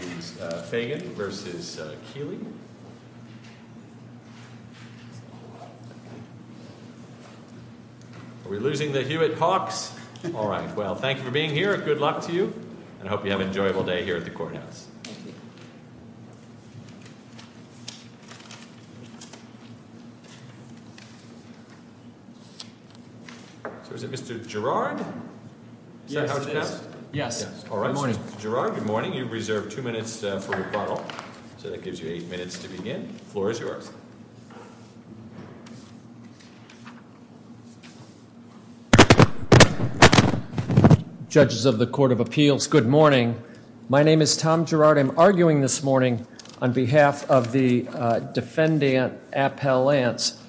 and Fagon v. Keeley Are we losing the Hewitt Hawks? Alright, well thank you for being here, good luck to you and I hope you have an enjoyable day here at the Courthouse. So is it Mr. Girard? Is that how it's passed? Yes. Good morning. Mr. Girard, good morning. You've reserved two minutes for rebuttal, so that gives you eight minutes to begin. The floor is yours. Judges of the Court of Appeals, good morning. My name is Tom Girard. I'm arguing this morning on behalf of the defendant, Appel Lance.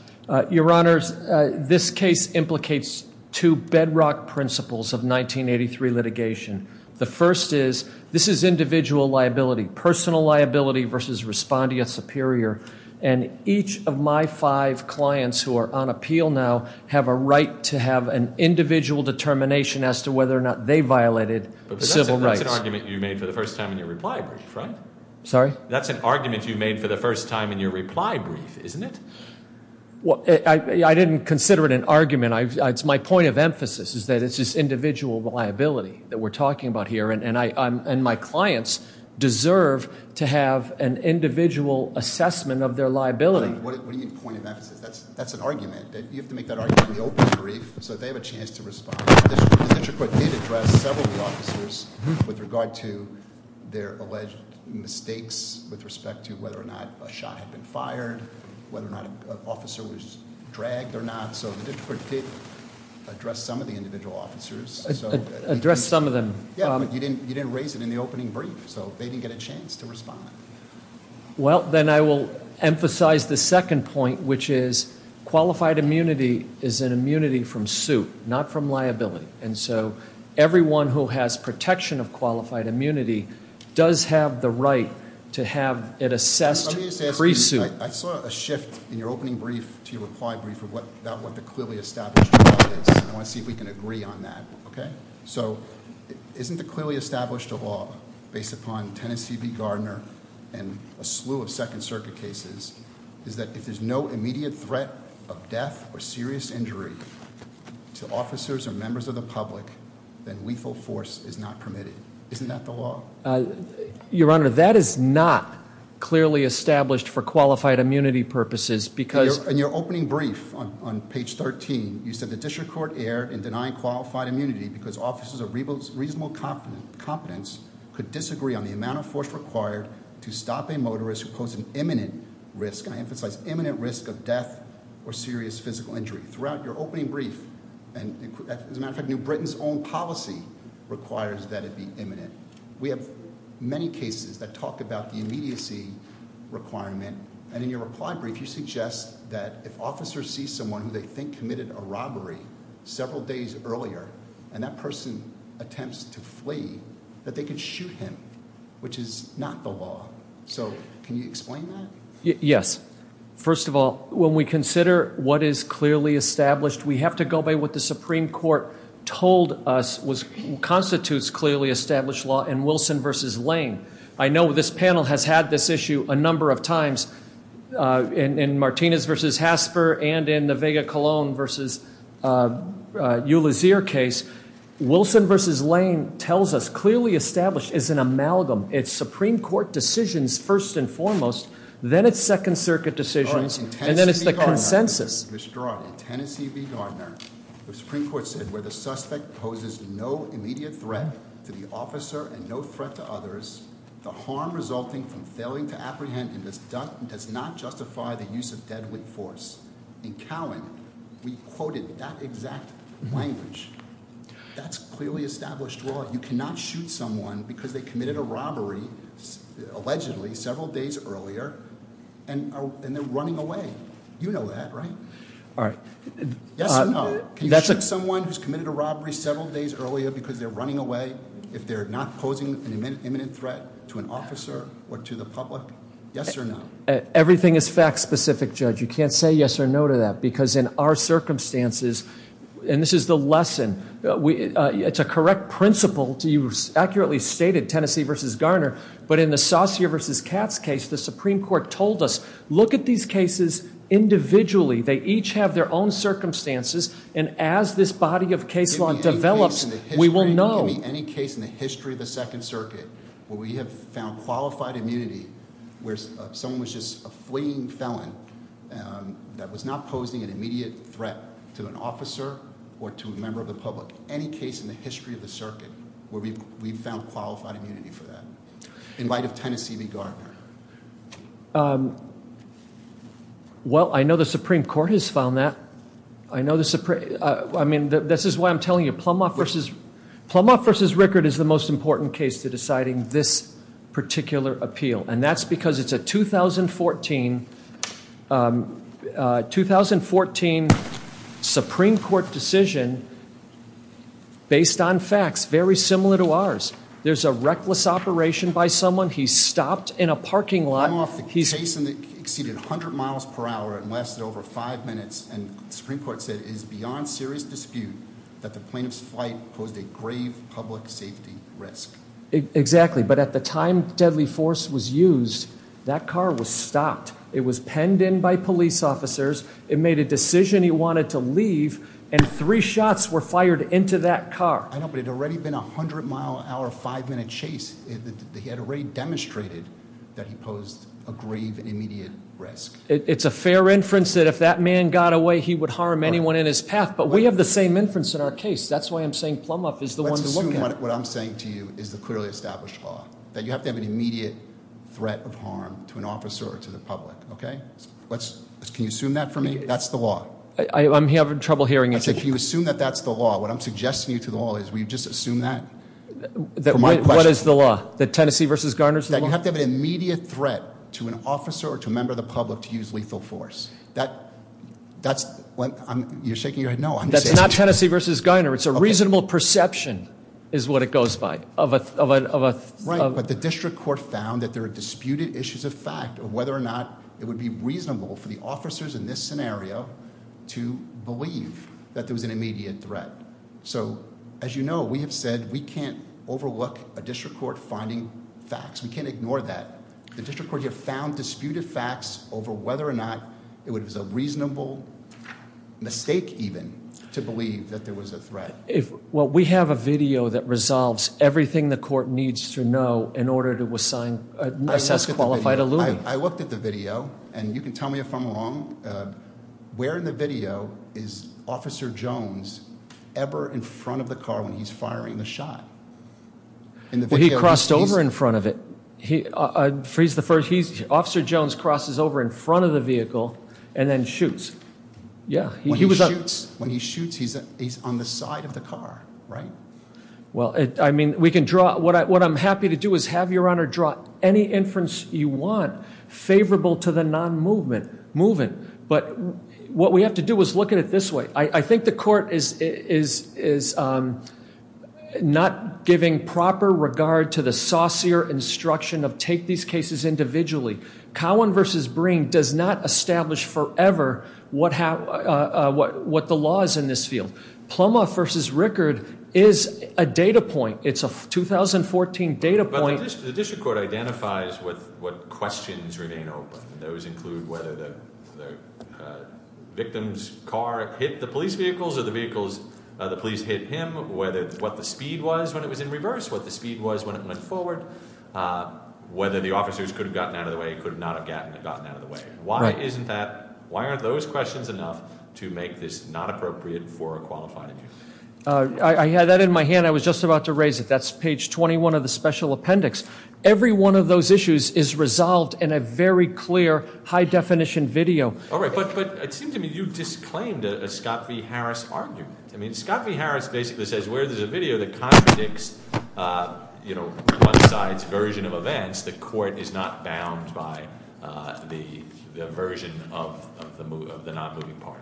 Your Honors, this case implicates two bedrock principles of 1983 litigation. The first is, this is individual liability. Personal liability versus respondeat superior. And each of my five clients who are on appeal now have a right to have an individual determination as to whether or not they violated civil rights. But that's an argument you made for the first time in your reply brief, right? Sorry? That's an argument you made for the first time in your reply brief, isn't it? Well, I didn't consider it an argument. My point of emphasis is that it's just individual liability that we're talking about here. And my clients deserve to have an individual assessment of their liability. What do you mean point of emphasis? That's an argument. You have to make that argument in the open brief so that they have a chance to respond. The district court did address several of the officers with regard to their alleged mistakes with respect to whether or not a shot had been fired, whether or not an officer was dragged or not. So the district court did address some of the individual officers. Address some of them. Yeah, but you didn't raise it in the opening brief. So they didn't get a chance to respond. Well, then I will emphasize the second point, which is qualified immunity is an immunity from suit, not from liability. And so everyone who has protection of qualified immunity does have the right to have it assessed pre-suit. I saw a shift in your opening brief to your reply brief about what the clearly established law is. I want to see if we can agree on that, okay? So isn't the clearly established law based upon Tennessee v. Gardner and a slew of Second Circuit cases is that if there's no immediate threat of death or serious injury to officers or members of the public, then lethal force is not permitted. Isn't that the law? Your Honor, that is not clearly established for qualified immunity purposes because- In your opening brief on page 13, you said the district court erred in denying qualified immunity because officers of reasonable competence could disagree on the amount of force required to stop a motorist who posed an imminent risk. I emphasize imminent risk of death or serious physical injury. Throughout your opening brief, and as a matter of fact, New Britain's own policy requires that it be imminent. We have many cases that talk about the immediacy requirement, and in your reply brief, you suggest that if officers see someone who they think committed a robbery several days earlier, and that person attempts to flee, that they could shoot him, which is not the law. So can you explain that? Yes. First of all, when we consider what is clearly established, we have to go by what the Supreme Court told us constitutes clearly established law in Wilson v. Lane. I know this panel has had this issue a number of times in Martinez v. Hasper and in the Vega-Colón v. Ulyssier case. Wilson v. Lane tells us clearly established is an amalgam. It's Supreme Court decisions first and foremost, then it's Second Circuit decisions, and then it's the consensus. In Tennessee v. Gardner, the Supreme Court said, where the suspect poses no immediate threat to the officer and no threat to others, the harm resulting from failing to apprehend him does not justify the use of deadly force. In Cowan, we quoted that exact language. That's clearly established law. You cannot shoot someone because they committed a robbery, allegedly, several days earlier, and they're running away. You know that, right? All right. Yes or no? Can you shoot someone who's committed a robbery several days earlier because they're running away, if they're not posing an imminent threat to an officer or to the public? Yes or no? Everything is fact-specific, Judge. You can't say yes or no to that, because in our circumstances, and this is the lesson, it's a correct principle to use, accurately stated, Tennessee v. But in the Saucier v. Katz case, the Supreme Court told us, look at these cases individually. They each have their own circumstances, and as this body of case law develops, we will know. Any case in the history of the Second Circuit where we have found qualified immunity, where someone was just a fleeing felon that was not posing an immediate threat to an officer or to a member of the public, any case in the history of the circuit where we've found qualified immunity for that? In light of Tennessee v. Gardner. Well, I know the Supreme Court has found that. I mean, this is why I'm telling you. Plumoff v. Rickard is the most important case to deciding this particular appeal, and that's because it's a 2014 Supreme Court decision based on facts very similar to ours. There's a reckless operation by someone. He's stopped in a parking lot. Plumoff, the case exceeded 100 miles per hour and lasted over five minutes, and the Supreme Court said it is beyond serious dispute that the plaintiff's flight posed a grave public safety risk. Exactly, but at the time deadly force was used, that car was stopped. It was penned in by police officers. It made a decision he wanted to leave, and three shots were fired into that car. I know, but it had already been a 100-mile-an-hour, five-minute chase. He had already demonstrated that he posed a grave immediate risk. It's a fair inference that if that man got away, he would harm anyone in his path, but we have the same inference in our case. That's why I'm saying Plumoff is the one to look at. What I'm saying to you is the clearly established law, that you have to have an immediate threat of harm to an officer or to the public, okay? Can you assume that for me? That's the law. I'm having trouble hearing you. I said, can you assume that that's the law? What I'm suggesting to you to the law is will you just assume that for my question? What is the law? That Tennessee v. Garner is the law? That you have to have an immediate threat to an officer or to a member of the public to use lethal force. You're shaking your head no. That's not Tennessee v. Garner. It's a reasonable perception is what it goes by. Right, but the district court found that there are disputed issues of fact of whether or not it would be reasonable for the officers in this scenario to believe that there was an immediate threat. So, as you know, we have said we can't overlook a district court finding facts. We can't ignore that. The district court here found disputed facts over whether or not it was a reasonable mistake even to believe that there was a threat. If, well, we have a video that resolves everything the court needs to know in order to assign, assess qualified alluding. I looked at the video, and you can tell me if I'm wrong. Where in the video is Officer Jones ever in front of the car when he's firing the shot? Well, he crossed over in front of it. He's the first. Officer Jones crosses over in front of the vehicle and then shoots. Yeah. When he shoots, he's on the side of the car, right? Well, I mean, we can draw. What I'm happy to do is have your honor draw any inference you want favorable to the non-moving. But what we have to do is look at it this way. I think the court is not giving proper regard to the saucier instruction of take these cases individually. Cowan v. Breen does not establish forever what the law is in this field. Plummer v. Rickard is a data point. It's a 2014 data point. But the district court identifies what questions remain open. Those include whether the victim's car hit the police vehicles or the police hit him, what the speed was when it was in reverse, what the speed was when it went forward, whether the officers could have gotten out of the way or could not have gotten out of the way. Why aren't those questions enough to make this not appropriate for a qualifying? I had that in my hand. I was just about to raise it. That's page 21 of the special appendix. Every one of those issues is resolved in a very clear, high-definition video. All right, but it seems to me you've disclaimed a Scott v. Harris argument. I mean, Scott v. Harris basically says where there's a video that contradicts one side's version of events, the court is not bound by the version of the non-moving party.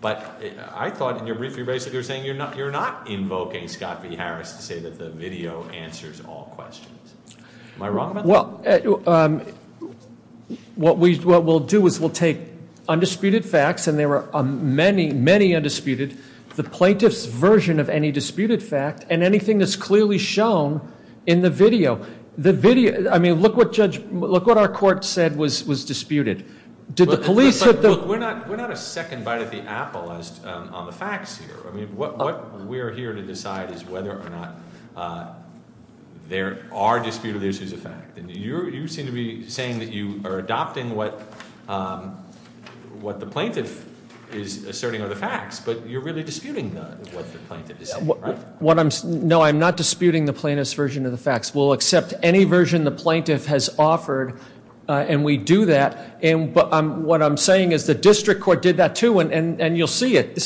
But I thought in your brief you basically were saying you're not invoking Scott v. Harris to say that the video answers all questions. Am I wrong about that? Well, what we'll do is we'll take undisputed facts, and there are many, many undisputed, the plaintiff's version of any disputed fact and anything that's clearly shown in the video. I mean, look what our court said was disputed. Look, we're not a second bite at the apple on the facts here. I mean, what we're here to decide is whether or not there are disputed issues of fact. You seem to be saying that you are adopting what the plaintiff is asserting are the facts, but you're really disputing what the plaintiff is saying, right? No, I'm not disputing the plaintiff's version of the facts. We'll accept any version the plaintiff has offered, and we do that. But what I'm saying is the district court did that too, and you'll see it.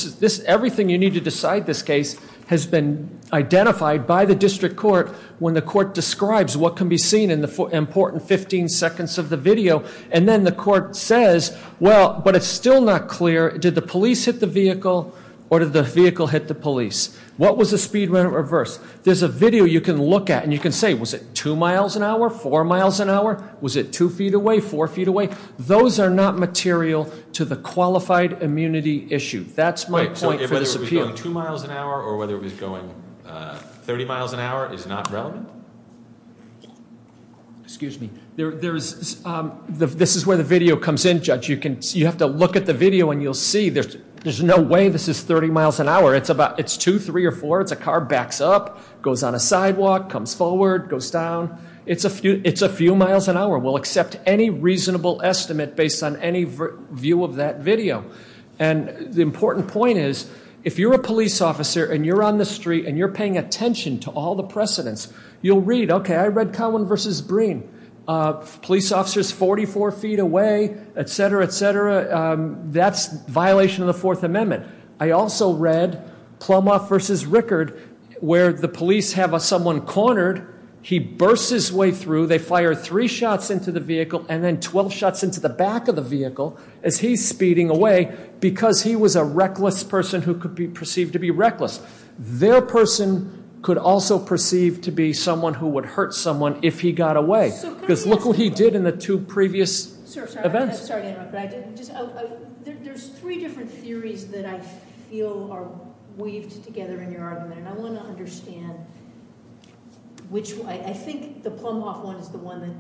Everything you need to decide this case has been identified by the district court when the court describes what can be seen in the important 15 seconds of the video. And then the court says, well, but it's still not clear. Did the police hit the vehicle, or did the vehicle hit the police? What was the speed when it reversed? There's a video you can look at, and you can say, was it 2 miles an hour, 4 miles an hour? Was it 2 feet away, 4 feet away? Those are not material to the qualified immunity issue. That's my point for this appeal. So whether it was going 2 miles an hour or whether it was going 30 miles an hour is not relevant? Excuse me. This is where the video comes in, Judge. You have to look at the video, and you'll see there's no way this is 30 miles an hour. It's 2, 3, or 4. It's a car backs up, goes on a sidewalk, comes forward, goes down. It's a few miles an hour. We'll accept any reasonable estimate based on any view of that video. And the important point is if you're a police officer and you're on the street and you're paying attention to all the precedents, you'll read, okay, I read Collin v. Breen, police officers 44 feet away, et cetera, et cetera. That's violation of the Fourth Amendment. I also read Plumoff v. Rickard where the police have someone cornered. He bursts his way through. They fire three shots into the vehicle and then 12 shots into the back of the vehicle as he's speeding away because he was a reckless person who could be perceived to be reckless. Their person could also perceive to be someone who would hurt someone if he got away. Because look what he did in the two previous events. There's three different theories that I feel are weaved together in your argument, and I want to understand which one. I think the Plumoff one is the one that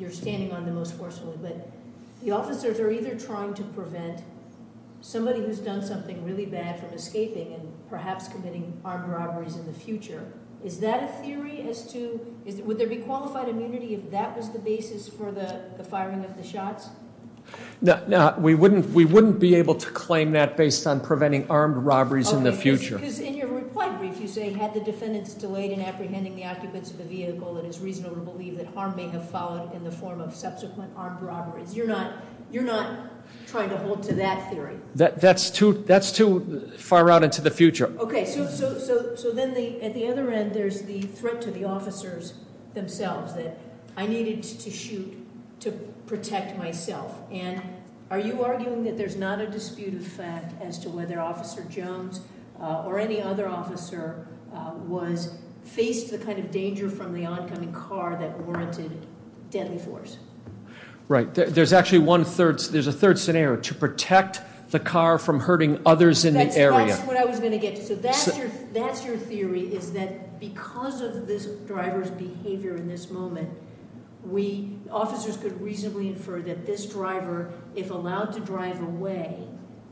you're standing on the most forcefully, but the officers are either trying to prevent somebody who's done something really bad from escaping and perhaps committing armed robberies in the future. Is that a theory as to would there be qualified immunity if that was the basis for the firing of the shots? No, we wouldn't be able to claim that based on preventing armed robberies in the future. Okay, because in your reply brief you say had the defendants delayed in apprehending the occupants of the vehicle, it is reasonable to believe that harm may have followed in the form of subsequent armed robberies. You're not trying to hold to that theory? That's too far out into the future. Okay, so then at the other end there's the threat to the officers themselves that I needed to shoot to protect myself. And are you arguing that there's not a dispute of fact as to whether Officer Jones or any other officer was faced the kind of danger from the oncoming car that warranted deadly force? Right. There's actually a third scenario, to protect the car from hurting others in the area. That's what I was going to get to. So that's your theory is that because of this driver's behavior in this moment, officers could reasonably infer that this driver, if allowed to drive away,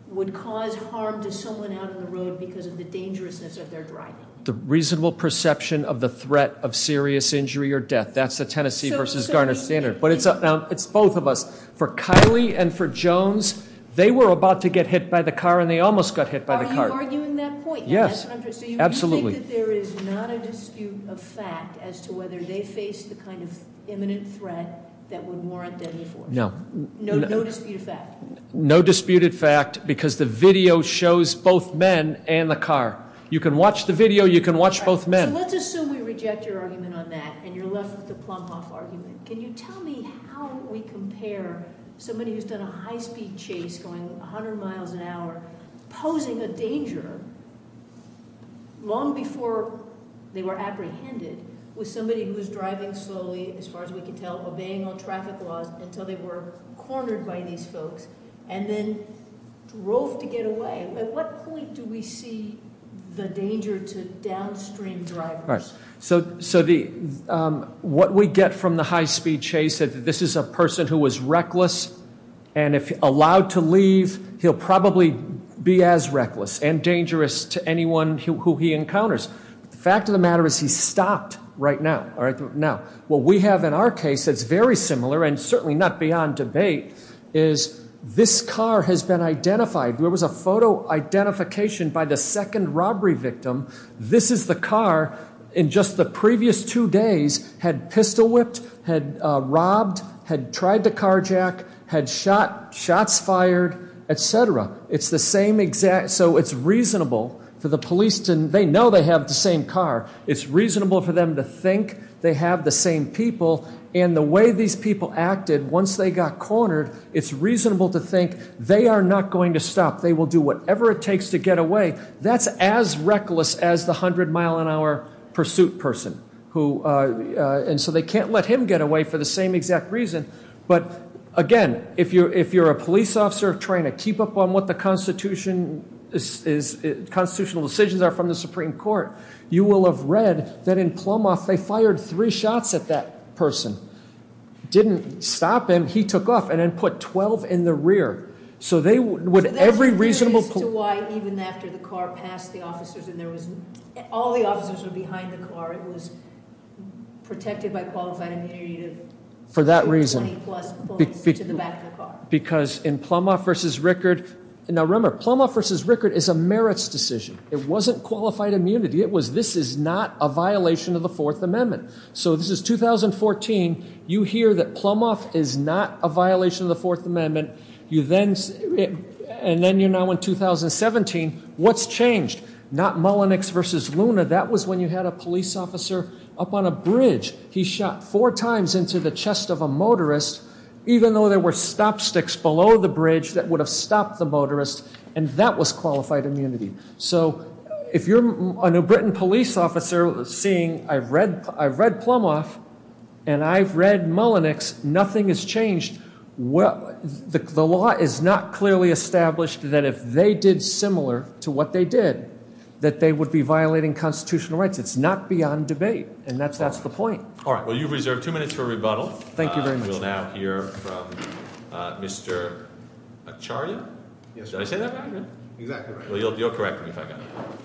would cause harm to someone out on the road because of the dangerousness of their driving. The reasonable perception of the threat of serious injury or death, that's the Tennessee versus Garner standard. But it's both of us. For Kylie and for Jones, they were about to get hit by the car and they almost got hit by the car. Are you arguing that point? Yes, absolutely. So you think that there is not a dispute of fact as to whether they faced the kind of imminent threat that would warrant deadly force? No. No dispute of fact? No dispute of fact because the video shows both men and the car. You can watch the video, you can watch both men. So let's assume we reject your argument on that and you're left with the Plumhoff argument. Can you tell me how we compare somebody who's done a high-speed chase going 100 miles an hour, posing a danger long before they were apprehended with somebody who's driving slowly, as far as we can tell, obeying all traffic laws until they were cornered by these folks and then drove to get away. At what point do we see the danger to downstream drivers? So what we get from the high-speed chase is that this is a person who was reckless and if allowed to leave, he'll probably be as reckless and dangerous to anyone who he encounters. The fact of the matter is he stopped right now. What we have in our case that's very similar and certainly not beyond debate is this car has been identified. There was a photo identification by the second robbery victim. This is the car in just the previous two days had pistol whipped, had robbed, had tried to carjack, had shots fired, etc. It's the same exact, so it's reasonable for the police to, they know they have the same car. It's reasonable for them to think they have the same people and the way these people acted once they got cornered, it's reasonable to think they are not going to stop. They will do whatever it takes to get away. That's as reckless as the 100-mile-an-hour pursuit person. And so they can't let him get away for the same exact reason. But again, if you're a police officer trying to keep up on what the constitutional decisions are from the Supreme Court, you will have read that in Plumhoff, they fired three shots at that person. Didn't stop him. He took off and then put 12 in the rear. So that's the reason as to why even after the car passed the officers and all the officers were behind the car, it was protected by qualified immunity to 20 plus points to the back of the car. Because in Plumhoff v. Rickard, now remember, Plumhoff v. Rickard is a merits decision. It wasn't qualified immunity. This is not a violation of the Fourth Amendment. So this is 2014. You hear that Plumhoff is not a violation of the Fourth Amendment. And then you're now in 2017. What's changed? Not Mullenix v. Luna. That was when you had a police officer up on a bridge. He shot four times into the chest of a motorist, even though there were stop sticks below the bridge that would have stopped the motorist. And that was qualified immunity. So if you're a New Britain police officer seeing I've read Plumhoff and I've read Mullenix, nothing has changed. The law is not clearly established that if they did similar to what they did, that they would be violating constitutional rights. It's not beyond debate. And that's the point. All right. Well, you've reserved two minutes for rebuttal. Thank you very much. We'll now hear from Mr. Acharya. Did I say that right? Exactly right. Well, you'll correct me if I got it wrong.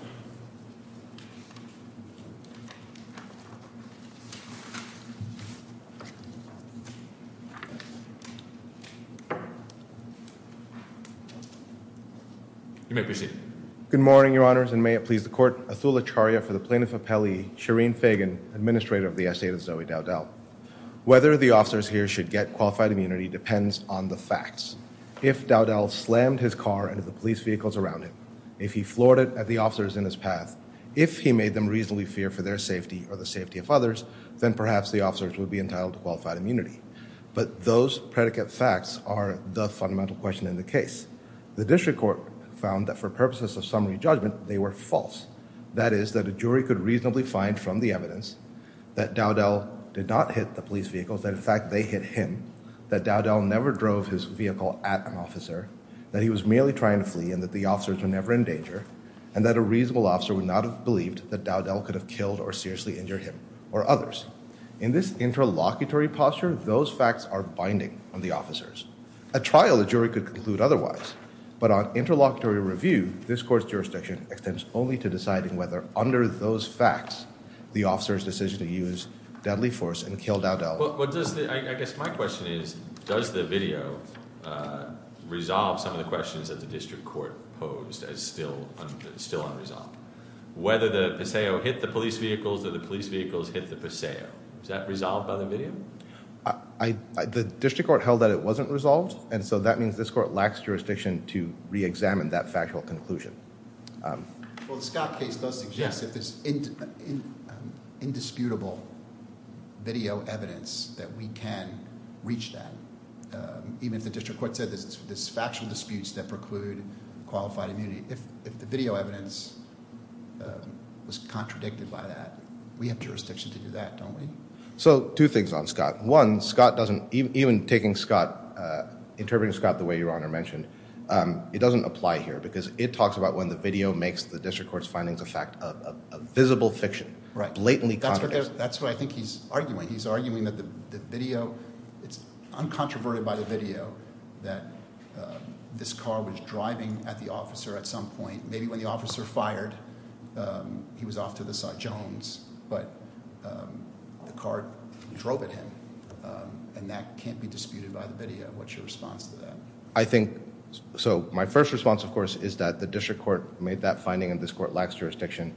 You may proceed. Good morning, Your Honours, and may it please the Court. Atul Acharya for the Plaintiff Appellee, Shireen Fagan, Administrator of the Estate of Zoe Dowdell. Whether the officers here should get qualified immunity depends on the facts. If Dowdell slammed his car into the police vehicles around him, if he floored it at the officers in his path, if he made them reasonably fear for their safety or the safety of others, then perhaps the officers would be entitled to qualified immunity. But those predicate facts are the fundamental question in the case. The district court found that for purposes of summary judgment, they were false. That is, that a jury could reasonably find from the evidence that Dowdell did not hit the police vehicles, that in fact they hit him, that Dowdell never drove his vehicle at an officer, that he was merely trying to flee and that the officers were never in danger, and that a reasonable officer would not have believed that Dowdell could have killed or seriously injured him or others. In this interlocutory posture, those facts are binding on the officers. A trial, a jury could conclude otherwise. But on interlocutory review, this court's jurisdiction extends only to deciding whether under those facts, the officers' decision to use deadly force and kill Dowdell. I guess my question is, does the video resolve some of the questions that the district court posed as still unresolved? Whether the Paseo hit the police vehicles or the police vehicles hit the Paseo. Is that resolved by the video? The district court held that it wasn't resolved, and so that means this court lacks jurisdiction to re-examine that factual conclusion. Well, the Scott case does suggest that there's indisputable video evidence that we can reach that, even if the district court said there's factual disputes that preclude qualified immunity. If the video evidence was contradicted by that, we have jurisdiction to do that, don't we? So two things on Scott. One, Scott doesn't, even taking Scott, interpreting Scott the way Your Honor mentioned, it doesn't apply here because it talks about when the video makes the district court's findings a fact of visible fiction. Right. Blatantly contradicted. That's what I think he's arguing. He's arguing that the video, it's uncontroverted by the video that this car was driving at the officer at some point. Maybe when the officer fired, he was off to the side of Jones, but the car drove at him, and that can't be disputed by the video. What's your response to that? I think, so my first response, of course, is that the district court made that finding, and this court lacks jurisdiction.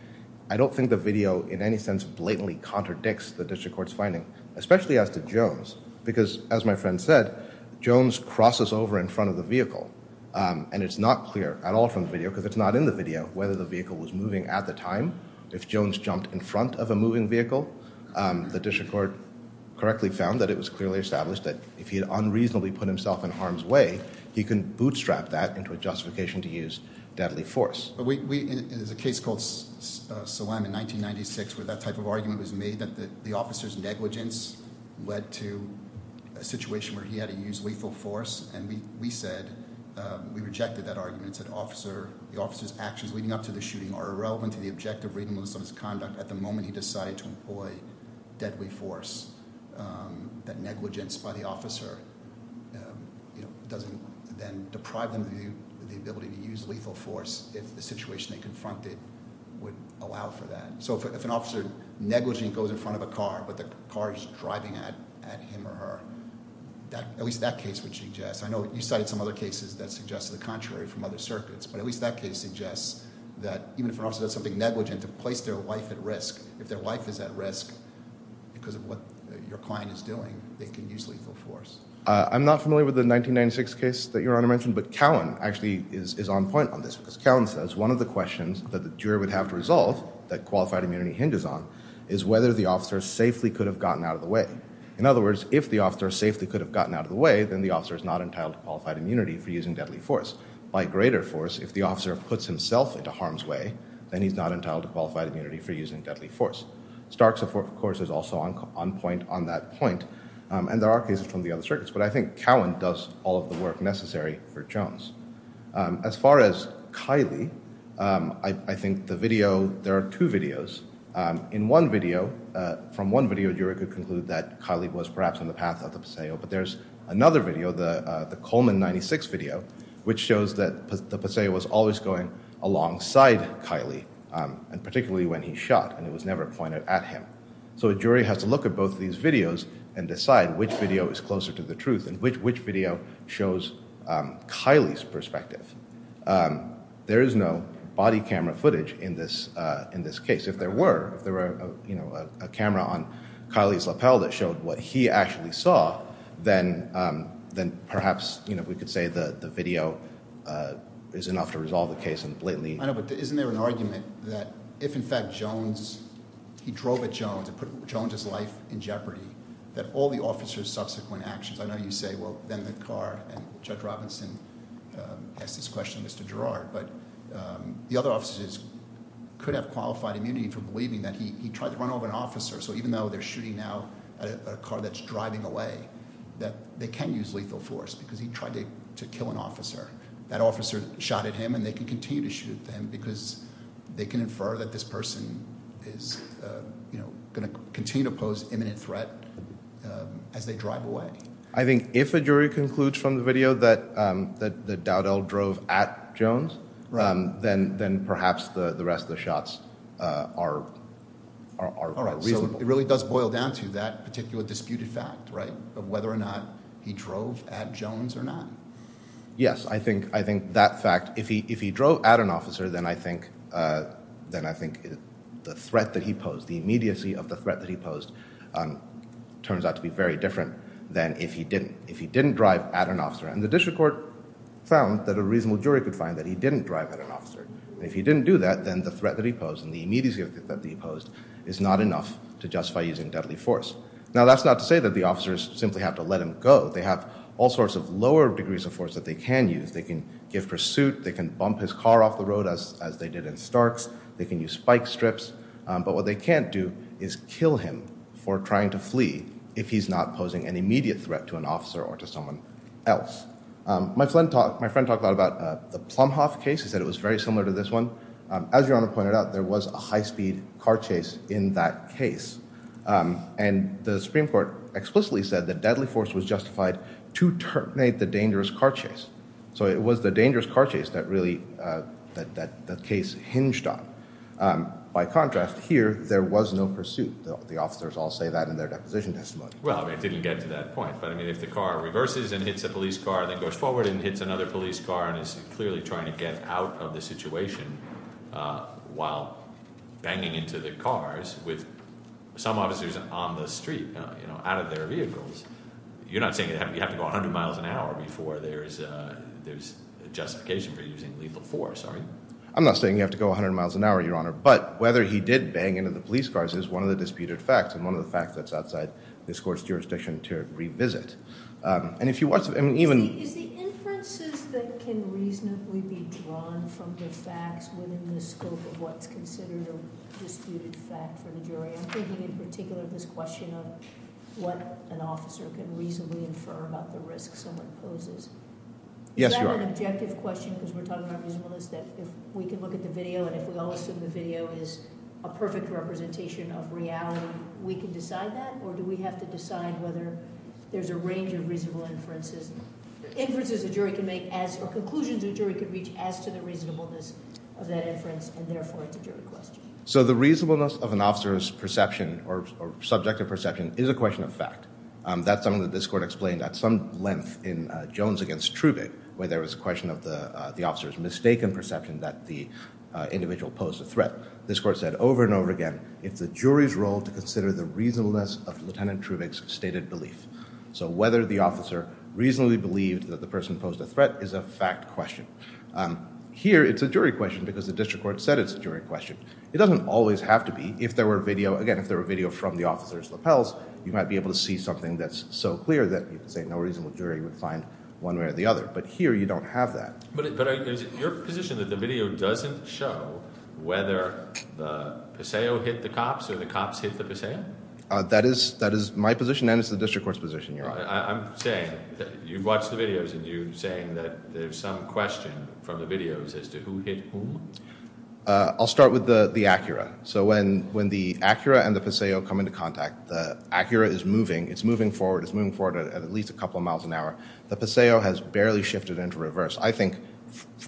I don't think the video in any sense blatantly contradicts the district court's finding, especially as to Jones, because as my friend said, Jones crosses over in front of the vehicle, and it's not clear at all from the video because it's not in the video whether the vehicle was moving at the time. If Jones jumped in front of a moving vehicle, the district court correctly found that it was clearly established that if he had unreasonably put himself in harm's way, he can bootstrap that into a justification to use deadly force. There's a case called Salam in 1996 where that type of argument was made that the officer's negligence led to a situation where he had to use lethal force, and we said we rejected that argument and said the officer's actions leading up to the shooting are irrelevant to the objective reasonableness of his conduct at the moment he decided to employ deadly force, that negligence by the officer doesn't then deprive them of the ability to use lethal force if the situation they confronted would allow for that. So if an officer negligently goes in front of a car but the car is driving at him or her, at least that case would suggest. I know you cited some other cases that suggested the contrary from other circuits, but at least that case suggests that even if an officer does something negligent to place their life at risk, if their life is at risk because of what your client is doing, they can use lethal force. I'm not familiar with the 1996 case that Your Honor mentioned, but Cowan actually is on point on this because Cowan says one of the questions that the juror would have to resolve that qualified immunity hinges on is whether the officer safely could have gotten out of the way. In other words, if the officer safely could have gotten out of the way, then the officer is not entitled to qualified immunity for using deadly force. By greater force, if the officer puts himself into harm's way, then he's not entitled to qualified immunity for using deadly force. Starks, of course, is also on point on that point, and there are cases from the other circuits, but I think Cowan does all of the work necessary for Jones. As far as Kiley, I think the video, there are two videos. In one video, from one video, a juror could conclude that Kiley was perhaps on the path of the Paseo, but there's another video, the Coleman 1996 video, which shows that the Paseo was always going alongside Kiley, and particularly when he shot, and it was never pointed at him. So a jury has to look at both of these videos and decide which video is closer to the truth and which video shows Kiley's perspective. There is no body camera footage in this case. If there were, if there were a camera on Kiley's lapel that showed what he actually saw, then perhaps we could say the video is enough to resolve the case completely. I know, but isn't there an argument that if in fact Jones, he drove at Jones and put Jones's life in jeopardy, that all the officers' subsequent actions, I know you say, well, then the car, and Judge Robinson asked this question of Mr. Girard, but the other officers could have qualified immunity for believing that he tried to run over an officer, so even though they're shooting now at a car that's driving away, that they can use lethal force because he tried to kill an officer. That officer shot at him, and they can continue to shoot at him because they can infer that this person is going to continue to pose imminent threat as they drive away. I think if a jury concludes from the video that Dowdell drove at Jones, then perhaps the rest of the shots are reasonable. All right, so it really does boil down to that particular disputed fact, right, of whether or not he drove at Jones or not? Yes, I think that fact, if he drove at an officer, then I think the threat that he posed, the immediacy of the threat that he posed, turns out to be very different than if he didn't drive at an officer, and the district court found that a reasonable jury could find that he didn't drive at an officer, and if he didn't do that, then the threat that he posed and the immediacy of the threat that he posed is not enough to justify using deadly force. Now, that's not to say that the officers simply have to let him go. They have all sorts of lower degrees of force that they can use. They can give pursuit. They can bump his car off the road, as they did in Starks. They can use spike strips. But what they can't do is kill him for trying to flee if he's not posing an immediate threat to an officer or to someone else. My friend talked a lot about the Plumhoff case. He said it was very similar to this one. As Your Honor pointed out, there was a high-speed car chase in that case, and the Supreme Court explicitly said that deadly force was justified to terminate the dangerous car chase. So it was the dangerous car chase that really the case hinged on. By contrast, here, there was no pursuit. The officers all say that in their deposition testimony. Well, I didn't get to that point, but if the car reverses and hits a police car and then goes forward and hits another police car and is clearly trying to get out of the situation while banging into the cars with some officers on the street, out of their vehicles, you're not saying you have to go 100 miles an hour before there's justification for using lethal force, are you? I'm not saying you have to go 100 miles an hour, Your Honor. But whether he did bang into the police cars is one of the disputed facts and one of the facts that's outside this court's jurisdiction to revisit. Is the inferences that can reasonably be drawn from the facts within the scope of what's considered a disputed fact for the jury? I'm thinking in particular of this question of what an officer can reasonably infer about the risks someone poses. Yes, Your Honor. Is that an objective question, because we're talking about reasonableness, that if we can look at the video and if we all assume the video is a perfect representation of reality, we can decide that, or do we have to decide whether there's a range of reasonable inferences, inferences a jury can make or conclusions a jury can reach as to the reasonableness of that inference, and therefore it's a jury question. So the reasonableness of an officer's perception or subjective perception is a question of fact. That's something that this court explained at some length in Jones v. Trubit, where there was a question of the officer's mistaken perception that the individual posed a threat. This court said over and over again it's the jury's role to consider the reasonableness of Lieutenant Trubick's stated belief. So whether the officer reasonably believed that the person posed a threat is a fact question. Here it's a jury question because the district court said it's a jury question. It doesn't always have to be. If there were video, again, if there were video from the officer's lapels, you might be able to see something that's so clear that you can say no reasonable jury would find one way or the other. But here you don't have that. But is it your position that the video doesn't show whether the Paseo hit the cops or the cops hit the Paseo? That is my position and it's the district court's position, Your Honor. I'm saying that you've watched the videos and you're saying that there's some question from the videos as to who hit whom? I'll start with the Acura. So when the Acura and the Paseo come into contact, the Acura is moving. It's moving forward. It's moving forward at at least a couple of miles an hour. The Paseo has barely shifted into reverse. I think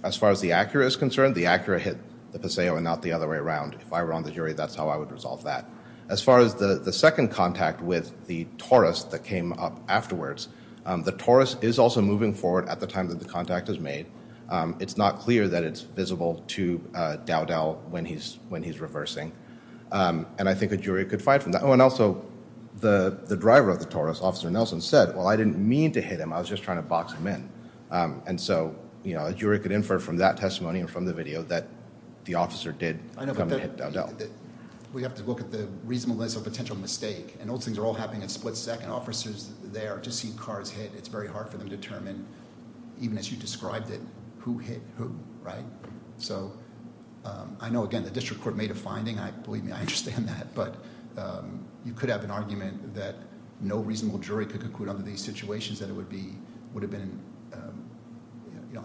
as far as the Acura is concerned, the Acura hit the Paseo and not the other way around. If I were on the jury, that's how I would resolve that. As far as the second contact with the Taurus that came up afterwards, the Taurus is also moving forward at the time that the contact is made. It's not clear that it's visible to Dowdell when he's reversing. And I think a jury could find from that. Oh, and also the driver of the Taurus, Officer Nelson, said, well, I didn't mean to hit him. I was just trying to box him in. And so a jury could infer from that testimony and from the video that the officer did come and hit Dowdell. We have to look at the reasonableness of a potential mistake. And those things are all happening at split second. Officers there just see cars hit. It's very hard for them to determine, even as you described it, who hit whom, right? So I know, again, the district court made a finding. Believe me, I understand that. But you could have an argument that no reasonable jury could conclude under these situations that it would have been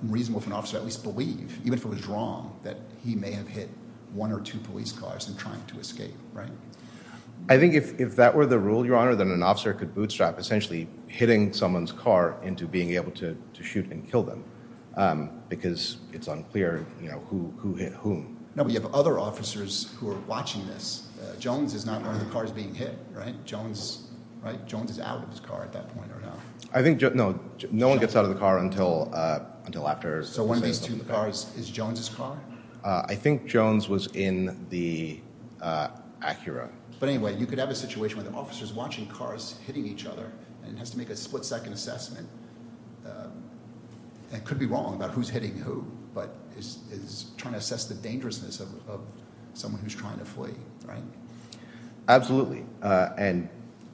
unreasonable for an officer to at least believe, even if it was wrong, that he may have hit one or two police cars in trying to escape, right? I think if that were the rule, Your Honor, then an officer could bootstrap essentially hitting someone's car into being able to shoot and kill them because it's unclear who hit whom. No, but you have other officers who are watching this. Jones is not one of the cars being hit, right? Jones is out of his car at that point right now. I think – no, no one gets out of the car until after – So one of these two cars is Jones' car? I think Jones was in the Acura. But anyway, you could have a situation where the officer is watching cars hitting each other and has to make a split second assessment. And could be wrong about who's hitting who, but is trying to assess the dangerousness of someone who's trying to flee, right? Absolutely. And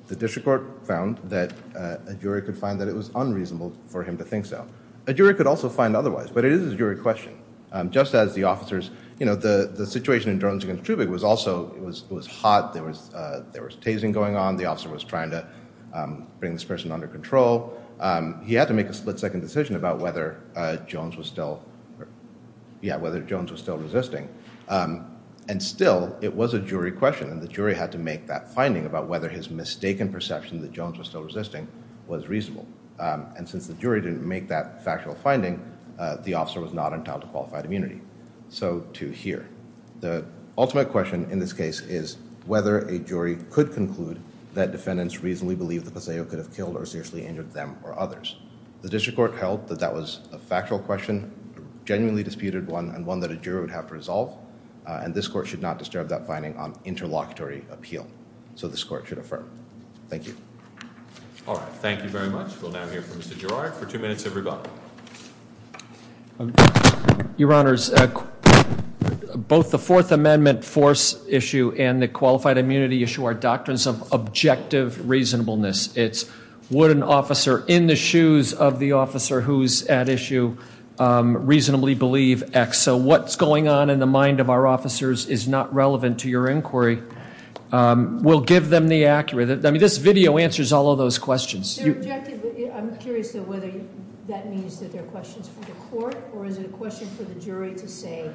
the district court found that a jury could find that it was unreasonable for him to think so. A jury could also find otherwise, but it is a jury question. Just as the officers – you know, the situation in Jones against Trubig was also – it was hot. There was tasing going on. The officer was trying to bring this person under control. He had to make a split second decision about whether Jones was still – yeah, whether Jones was still resisting. And still, it was a jury question, and the jury had to make that finding about whether his mistaken perception that Jones was still resisting was reasonable. And since the jury didn't make that factual finding, the officer was not entitled to qualified immunity. So, to here. The ultimate question in this case is whether a jury could conclude that defendants reasonably believe that Paseo could have killed or seriously injured them or others. The district court held that that was a factual question, a genuinely disputed one, and one that a jury would have to resolve. And this court should not disturb that finding on interlocutory appeal. So this court should affirm. Thank you. All right. Thank you very much. We'll now hear from Mr. Gerard for two minutes of rebuttal. Your Honors, both the Fourth Amendment force issue and the qualified immunity issue are doctrines of objective reasonableness. It's would an officer in the shoes of the officer who's at issue reasonably believe X. So what's going on in the mind of our officers is not relevant to your inquiry. We'll give them the accuracy. I mean, this video answers all of those questions. They're objective. I'm curious, though, whether that means that they're questions for the court, or is it a question for the jury to say,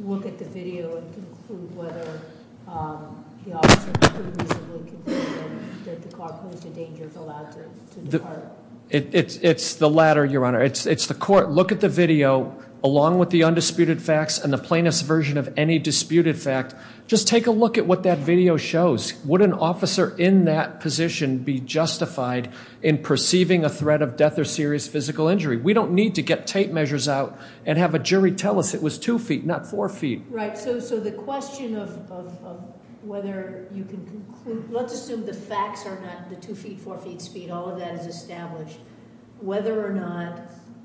look at the video and conclude whether the officer could reasonably conclude that the cop who's in danger is allowed to depart? It's the latter, Your Honor. It's the court. Look at the video, along with the undisputed facts and the plaintiff's version of any disputed fact. Just take a look at what that video shows. Would an officer in that position be justified in perceiving a threat of death or serious physical injury? We don't need to get tape measures out and have a jury tell us it was two feet, not four feet. Right. So the question of whether you can conclude, let's assume the facts are not the two feet, four feet speed. All of that is established. Whether or not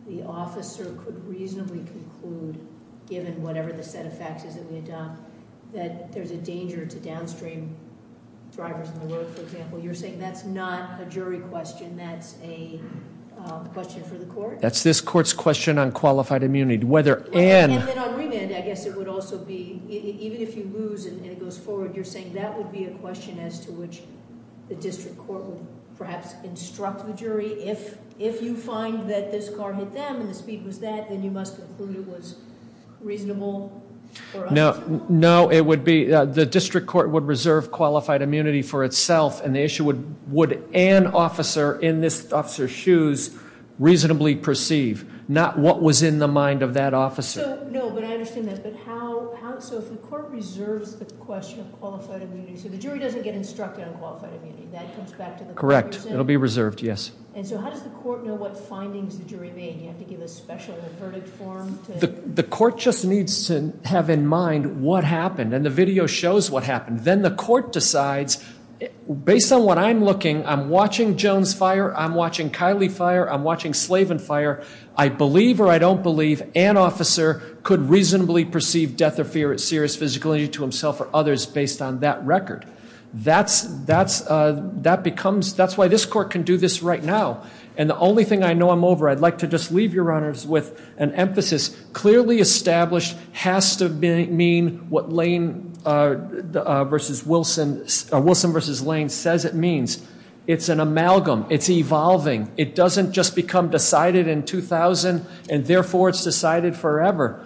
the officer could reasonably conclude, given whatever the set of facts is that we adopt, that there's a danger to downstream drivers on the road, for example. You're saying that's not a jury question. That's a question for the court? That's this court's question on qualified immunity. And then on remand, I guess it would also be, even if you lose and it goes forward, you're saying that would be a question as to which the district court would perhaps instruct the jury. If you find that this car hit them and the speed was that, then you must conclude it was reasonable for us to do so? No, it would be, the district court would reserve qualified immunity for itself, and the issue would, would an officer in this officer's shoes reasonably perceive, not what was in the mind of that officer. No, but I understand that, but how, so if the court reserves the question of qualified immunity, so the jury doesn't get instructed on qualified immunity, that comes back to the court? Correct. It'll be reserved, yes. And so how does the court know what findings the jury made? Do you have to give a special verdict form? The court just needs to have in mind what happened, and the video shows what happened. Then the court decides, based on what I'm looking, I'm watching Jones fire, I'm watching Kiley fire, I'm watching Slavin fire. I believe or I don't believe an officer could reasonably perceive death or fear of serious physical injury to himself or others based on that record. That's, that's, that becomes, that's why this court can do this right now. And the only thing I know I'm over, I'd like to just leave you, Your Honors, with an emphasis. Clearly established, has to mean what Lane versus Wilson, Wilson versus Lane says it means. It's an amalgam. It's evolving. It doesn't just become decided in 2000, and therefore it's decided forever.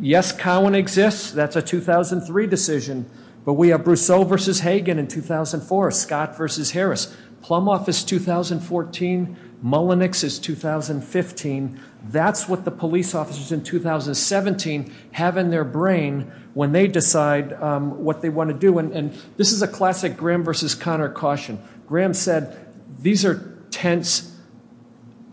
Yes, Cowan exists. That's a 2003 decision. But we have Brousseau versus Hagen in 2004. Scott versus Harris. Plumhoff is 2014. Mullenix is 2015. That's what the police officers in 2017 have in their brain when they decide what they want to do. And this is a classic Graham versus Connor caution. Graham said, these are tense,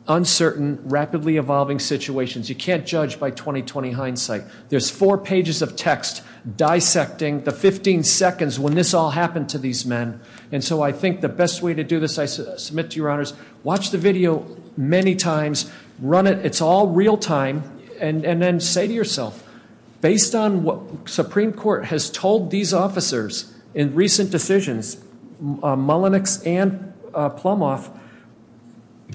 uncertain, rapidly evolving situations. You can't judge by 20-20 hindsight. There's four pages of text dissecting the 15 seconds when this all happened to these men. And so I think the best way to do this, I submit to Your Honors, watch the video many times, run it. It's all real time. And then say to yourself, based on what Supreme Court has told these officers in recent decisions, Mullenix and Plumhoff,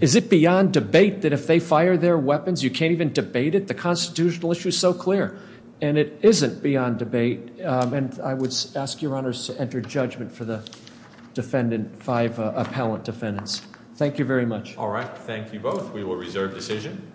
is it beyond debate that if they fire their weapons, you can't even debate it? The constitutional issue is so clear. And it isn't beyond debate. And I would ask Your Honors to enter judgment for the defendant, five appellant defendants. Thank you very much. All right. Thank you both. We will reserve decision.